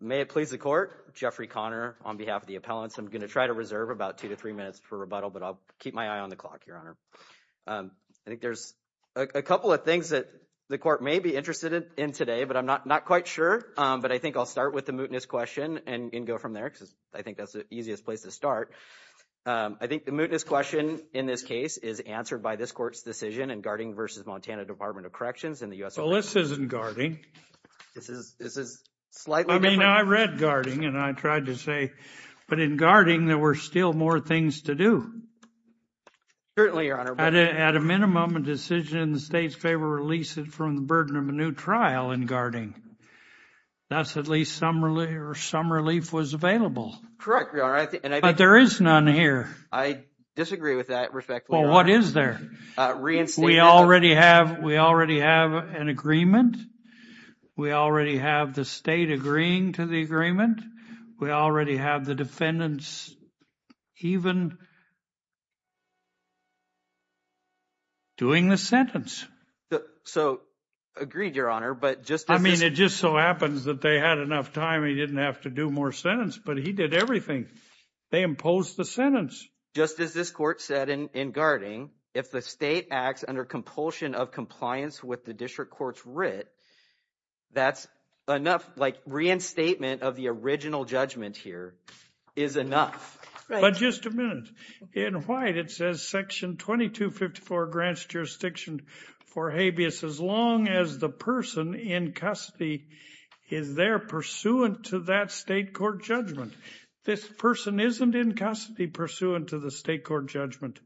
May it please the court, Jeffrey Connor on behalf of the appellants, I'm going to try to reserve about two to three minutes for rebuttal, but I'll keep my eye on the clock, your honor. I think there's a couple of things that the court may be interested in today, but I'm not quite sure, but I think I'll start with the mootness question and go from there because I think that's the easiest place to start. I think the mootness question in this case is answered by this court's decision in Garting v. Montana Department of Corrections in the U.S. Well, this isn't Garting. This is slightly different. I mean, I read Garting and I tried to say, but in Garting, there were still more things to do. Certainly, your honor. At a minimum, a decision in the state's favor, release it from the burden of a new trial in Garting. That's at least some relief was available. Correct, your honor. But there is none here. I disagree with that respectfully, your honor. Well, what is there? We already have an agreement. We already have the state agreeing to the agreement. We already have the defendants even doing the sentence. So agreed, your honor, but just as this- I mean, it just so happens that they had enough time and he didn't have to do more sentence, but he did everything. They imposed the sentence. Just as this court said in Garting, if the state acts under compulsion of compliance with the district court's writ, that's enough. Like reinstatement of the original judgment here is enough. But just a minute, in white, it says section 2254 grants jurisdiction for habeas as long as the person in custody is there pursuant to that state court judgment. This person isn't in custody pursuant to the state court judgment.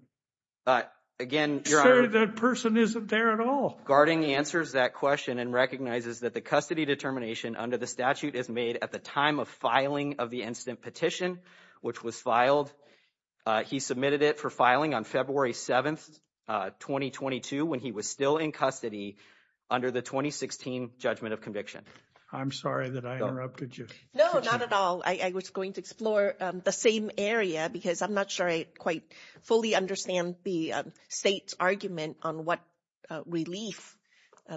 Again, your honor- So that person isn't there at all. Garting answers that question and recognizes that the custody determination under the statute is made at the time of filing of the instant petition, which was filed. He submitted it for filing on February 7th, 2022, when he was still in custody under the 2016 judgment of conviction. I'm sorry that I interrupted you. No, not at all. I was going to explore the same area because I'm not sure I quite fully understand the state's argument on what relief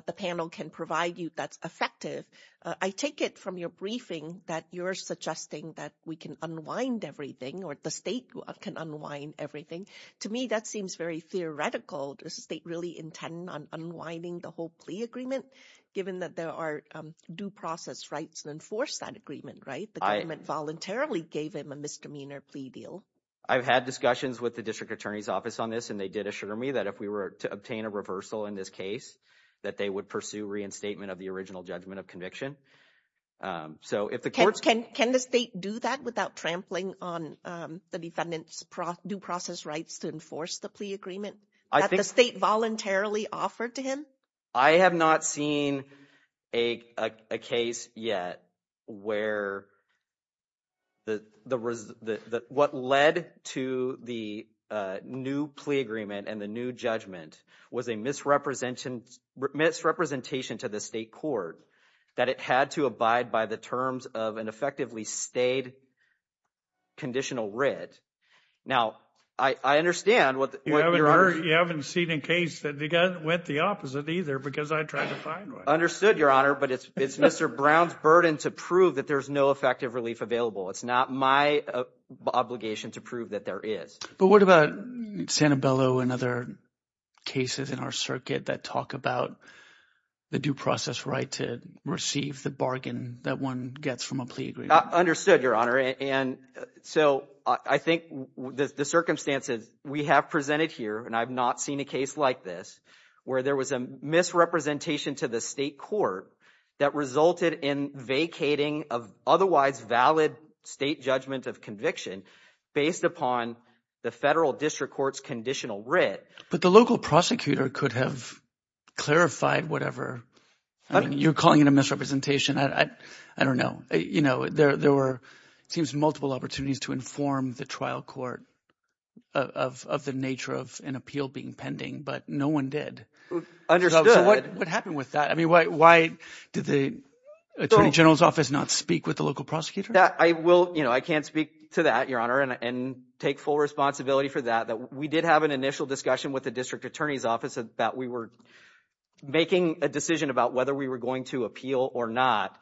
the panel can provide you that's effective. I take it from your briefing that you're suggesting that we can unwind everything or the state can unwind everything. To me, that seems very theoretical. Does the state really intend on unwinding the whole plea agreement, given that there are due process rights to enforce that agreement, right? The government voluntarily gave him a misdemeanor plea deal. I've had discussions with the district attorney's office on this, and they did assure me that if we were to obtain a reversal in this case, that they would pursue reinstatement of the original judgment of conviction. So if the courts- Can the state do that without trampling on the defendant's due process rights to enforce the plea agreement that the state voluntarily offered to him? I have not seen a case yet where what led to the new plea agreement and the new judgment was a misrepresentation to the state court, that it had to abide by the terms of an effectively stayed conditional writ. Now, I understand what you're- You haven't seen a case that went the opposite either, because I tried to find one. Understood, Your Honor, but it's Mr. Brown's burden to prove that there's no effective relief available. It's not my obligation to prove that there is. But what about Santabello and other cases in our circuit that talk about the due process right to receive the bargain that one gets from a plea agreement? Understood, Your Honor. And so I think the circumstances we have presented here, and I've not seen a case like this, where there was a misrepresentation to the state court that resulted in vacating of otherwise valid state judgment of conviction based upon the federal district court's conditional writ. But the local prosecutor could have clarified whatever. You're calling it a misrepresentation. I don't know. You know, there were, it seems, multiple opportunities to inform the trial court of the nature of an appeal being pending, but no one did. Understood. What happened with that? I mean, why did the attorney general's office not speak with the local prosecutor? I will. You know, I can't speak to that, Your Honor, and take full responsibility for that. We did have an initial discussion with the district attorney's office that we were making a decision about whether we were going to appeal or not.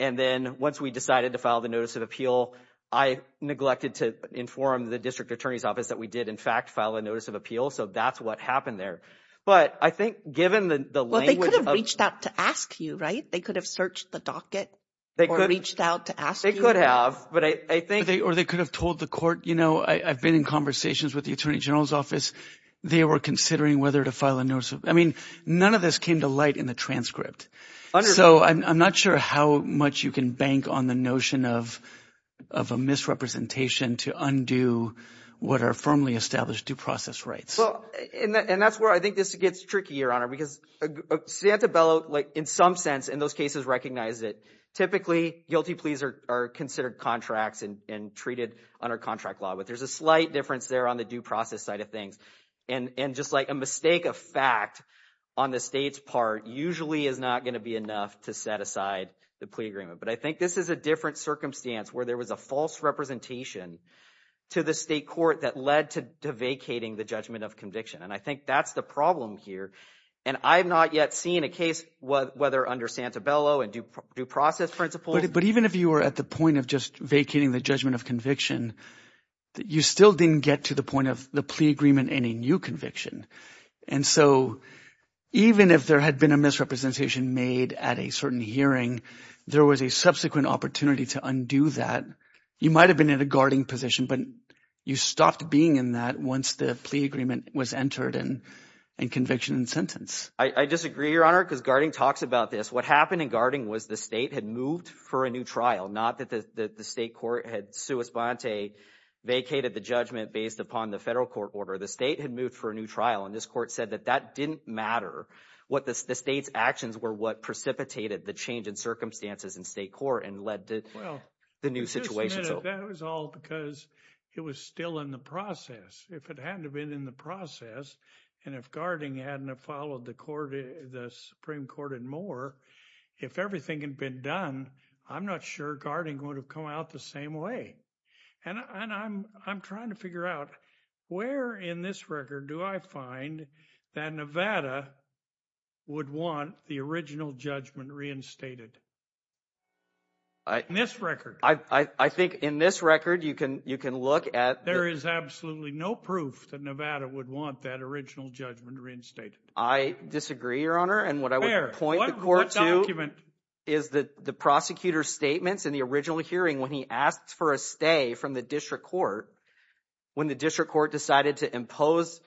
And then once we decided to file the notice of appeal, I neglected to inform the district attorney's office that we did, in fact, file a notice of appeal. So that's what happened there. But I think given the language of... Well, they could have reached out to ask you, right? They could have searched the docket or reached out to ask you. They could have, but I think... Or they could have told the court, you know, I've been in conversations with the attorney general's office. They were considering whether to file a notice of... I mean, none of this came to light in the transcript. So I'm not sure how much you can bank on the notion of a misrepresentation to undo what are firmly established due process rights. And that's where I think this gets tricky, Your Honor, because Santabella, in some sense, in those cases, recognized that typically guilty pleas are considered contracts and treated under contract law, but there's a slight difference there on the due process side of things. And just like a mistake of fact on the state's part usually is not going to be enough to set aside the plea agreement. But I think this is a different circumstance where there was a false representation to the state court that led to vacating the judgment of conviction. And I think that's the problem here. And I've not yet seen a case, whether under Santabella and due process principles... But even if you were at the point of just vacating the judgment of conviction, you still didn't get to the point of the plea agreement and a new conviction. And so even if there had been a misrepresentation made at a certain hearing, there was a subsequent opportunity to undo that. You might have been at a guarding position, but you stopped being in that once the plea agreement was entered and conviction and sentence. I disagree, Your Honor, because guarding talks about this. What happened in guarding was the state had moved for a new trial, not that the state court had sui sponte, vacated the judgment based upon the federal court order. The state had moved for a new trial, and this court said that that didn't matter. What the state's actions were what precipitated the change in circumstances in state court and led to the new situation. Well, that was all because it was still in the process. If it hadn't have been in the process, and if guarding hadn't have followed the Supreme Court and more, if everything had been done, I'm not sure guarding would have come out the same way. And I'm trying to figure out where in this record do I find that Nevada would want the original judgment reinstated? This record. I think in this record you can look at. There is absolutely no proof that Nevada would want that original judgment reinstated. I disagree, Your Honor, and what I would point the court to is that the prosecutor's statements in the original hearing when he asked for a stay from the district court, when the district court decided to impose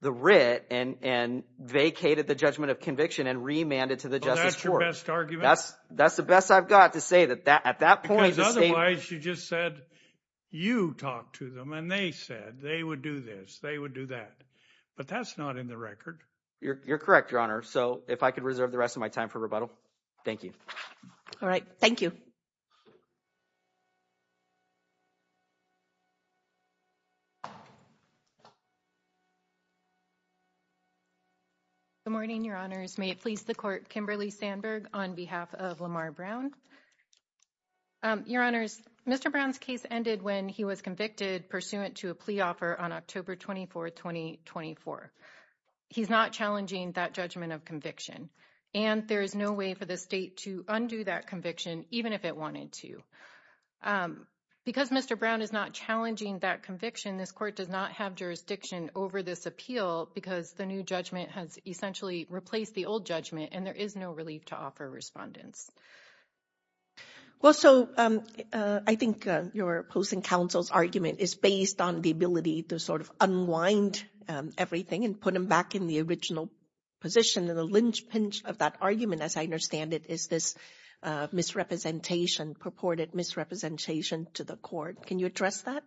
the writ and vacated the judgment of conviction and remanded to the justice court. Well, that's your best argument? That's the best I've got to say that at that point, the state. Because otherwise you just said you talked to them and they said they would do this, they would do that. But that's not in the record. You're correct, Your Honor. So if I could reserve the rest of my time for rebuttal. Thank you. All right. Thank you. Good morning, Your Honors. May it please the court, Kimberly Sandberg on behalf of Lamar Brown. Your Honors, Mr. Brown's case ended when he was convicted pursuant to a plea offer on October 24, 2024. He's not challenging that judgment of conviction, and there is no way for the state to undo that conviction, even if it wanted to. Because Mr. Brown is not challenging that conviction, this court does not have jurisdiction over this appeal because the new judgment has essentially replaced the old judgment and there is no relief to offer respondents. Well, so I think you're opposing counsel's argument is based on the ability to sort of unwind everything and put him back in the original position. And the linchpin of that argument, as I understand it, is this misrepresentation, purported misrepresentation to the court. Can you address that?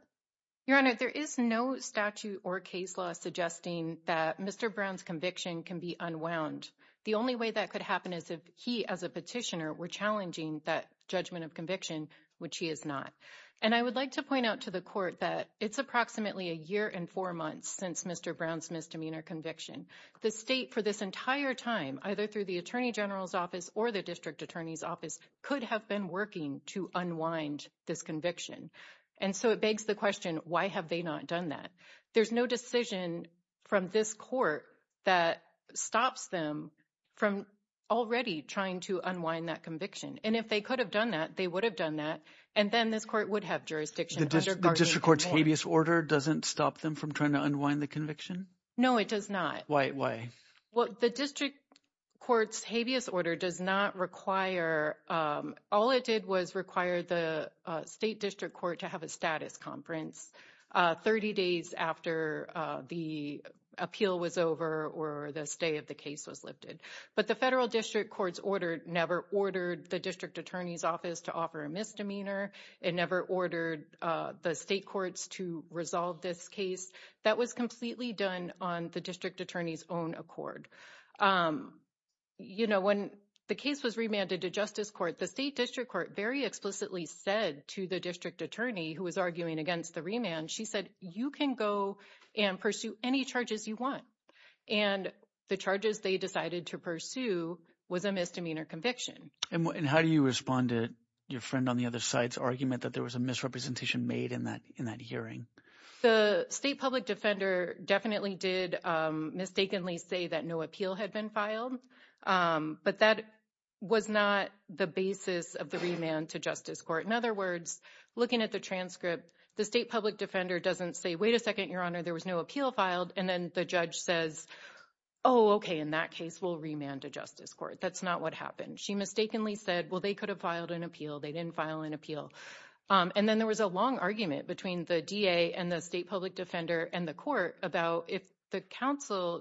Your Honor, there is no statute or case law suggesting that Mr. Brown's conviction can be unwound. The only way that could happen is if he, as a petitioner, were challenging that judgment of conviction, which he is not. And I would like to point out to the court that it's approximately a year and four months since Mr. Brown's misdemeanor conviction. The state, for this entire time, either through the Attorney General's office or the District Attorney's office, could have been working to unwind this conviction. And so it begs the question, why have they not done that? There's no decision from this court that stops them from already trying to unwind that conviction. And if they could have done that, they would have done that. And then this court would have jurisdiction under Part A of the law. The District Court's habeas order doesn't stop them from trying to unwind the conviction? No, it does not. Why, why? Well, the District Court's habeas order does not require, all it did was require the State District Court to have a status conference 30 days after the appeal was over or the stay of the case was lifted. But the Federal District Court's order never ordered the District Attorney's office to offer a misdemeanor. It never ordered the state courts to resolve this case. That was completely done on the District Attorney's own accord. You know, when the case was remanded to Justice Court, the State District Court very explicitly said to the District Attorney, who was arguing against the remand, she said, you can go and pursue any charges you want. And the charges they decided to pursue was a misdemeanor conviction. And how do you respond to your friend on the other side's argument that there was a misrepresentation made in that in that hearing? The State Public Defender definitely did mistakenly say that no appeal had been filed. But that was not the basis of the remand to Justice Court. In other words, looking at the transcript, the State Public Defender doesn't say, wait a second, Your Honor, there was no appeal filed. And then the judge says, oh, OK, in that case, we'll remand to Justice Court. That's not what happened. She mistakenly said, well, they could have filed an appeal. They didn't file an appeal. And then there was a long argument between the DA and the State Public Defender and the court about if the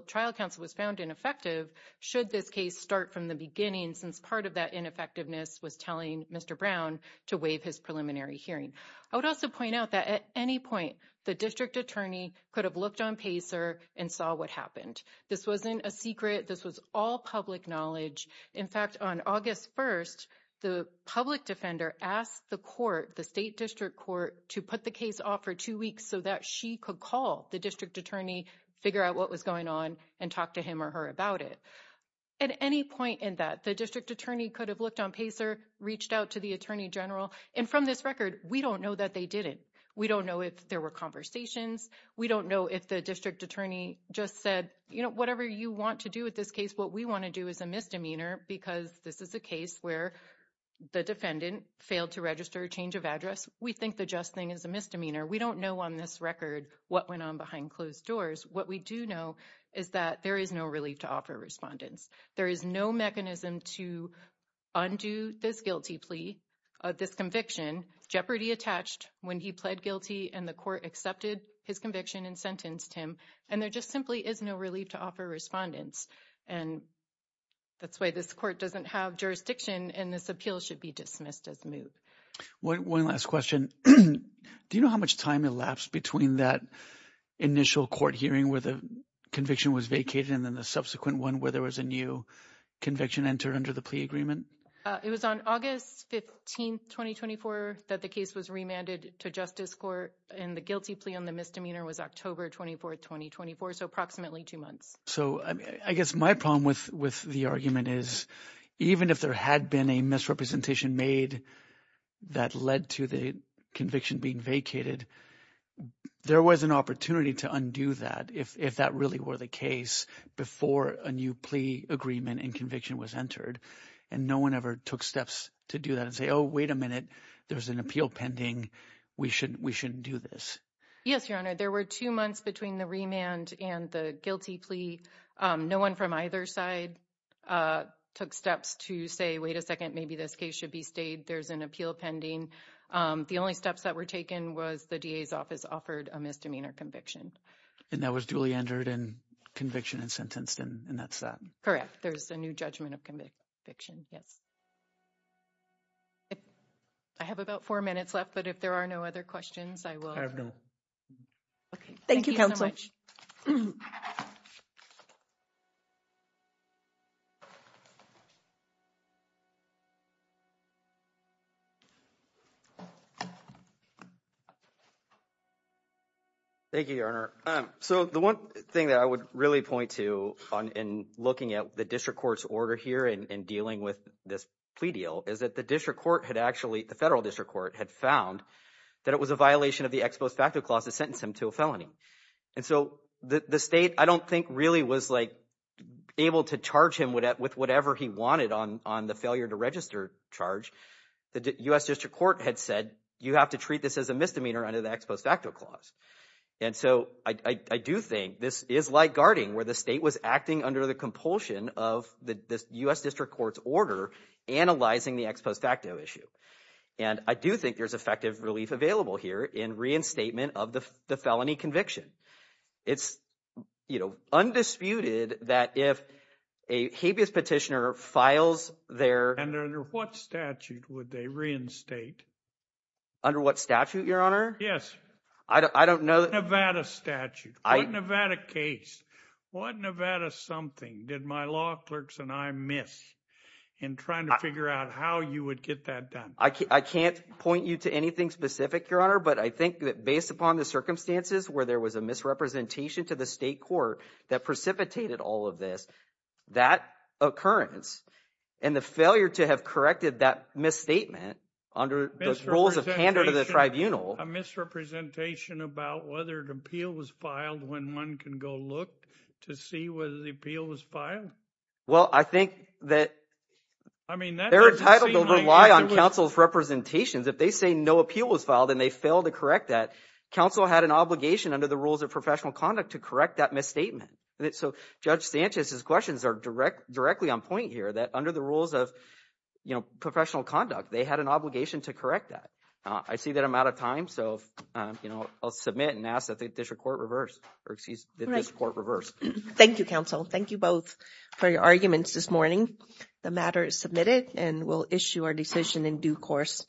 trial counsel was found ineffective, should this case start from the beginning, since part of that ineffectiveness was telling Mr. Brown to waive his preliminary hearing. I would also point out that at any point, the District Attorney could have looked on PACER and saw what happened. This wasn't a secret. This was all public knowledge. In fact, on August 1st, the Public Defender asked the court, the State District Court, to put the case off for two weeks so that she could call the District Attorney, figure out what was going on, and talk to him or her about it. At any point in that, the District Attorney could have looked on PACER, reached out to the Attorney General. And from this record, we don't know that they did it. We don't know if there were conversations. We don't know if the District Attorney just said, you know, whatever you want to do with this case. What we want to do is a misdemeanor because this is a case where the defendant failed to register a change of address. We think the just thing is a misdemeanor. We don't know on this record what went on behind closed doors. What we do know is that there is no relief to offer respondents. There is no mechanism to undo this guilty plea, this conviction, jeopardy attached, when he pled guilty and the court accepted his conviction and sentenced him. And there just simply is no relief to offer respondents. And that's why this court doesn't have jurisdiction and this appeal should be dismissed as moved. One last question. Do you know how much time elapsed between that initial court hearing where the conviction was vacated and then the subsequent one where there was a new conviction entered under the plea agreement? It was on August 15, 2024, that the case was remanded to Justice Court and the guilty plea on the misdemeanor was October 24, 2024, so approximately two months. So I guess my problem with the argument is even if there had been a misrepresentation made that led to the conviction being vacated, there was an opportunity to undo that if that really were the case before a new plea agreement and conviction was entered. And no one ever took steps to do that and say, oh, wait a minute, there's an appeal pending. We shouldn't do this. Yes, Your Honor. There were two months between the remand and the guilty plea. No one from either side took steps to say, wait a second, maybe this case should be stayed. There's an appeal pending. The only steps that were taken was the DA's office offered a misdemeanor conviction. And that was duly entered in conviction and sentenced, and that's that. Correct. There's a new judgment of conviction. Yes. I have about four minutes left, but if there are no other questions, I will. Okay. Thank you so much. Thank you, Counselor. Thank you, Your Honor. So the one thing that I would really point to in looking at the district court's order here in dealing with this plea deal is that the district court had actually, the federal ex post facto clause has sentenced him to a felony. And so the state, I don't think really was like able to charge him with whatever he wanted on the failure to register charge. The U.S. district court had said, you have to treat this as a misdemeanor under the ex post facto clause. And so I do think this is like guarding where the state was acting under the compulsion of the U.S. district court's order analyzing the ex post facto issue. And I do think there's effective relief available here in reinstatement of the felony conviction. It's, you know, undisputed that if a habeas petitioner files their... And under what statute would they reinstate? Under what statute, Your Honor? Yes. I don't know... Nevada statute. What Nevada case? What Nevada something did my law clerks and I miss in trying to figure out how you would get that done? I can't point you to anything specific, Your Honor, but I think that based upon the circumstances where there was a misrepresentation to the state court that precipitated all of this, that occurrence and the failure to have corrected that misstatement under the rules of candor to the tribunal... A misrepresentation about whether an appeal was filed when one can go look to see whether the appeal was filed? Well, I think that... They're entitled to rely on counsel's representations. If they say no appeal was filed and they fail to correct that, counsel had an obligation under the rules of professional conduct to correct that misstatement. So Judge Sanchez's questions are directly on point here, that under the rules of, you know, professional conduct, they had an obligation to correct that. I see that I'm out of time, so, you know, I'll submit and ask that this court reverse. Thank you, counsel. Thank you both for your arguments this morning. The matter is submitted and we'll issue our decision in due course.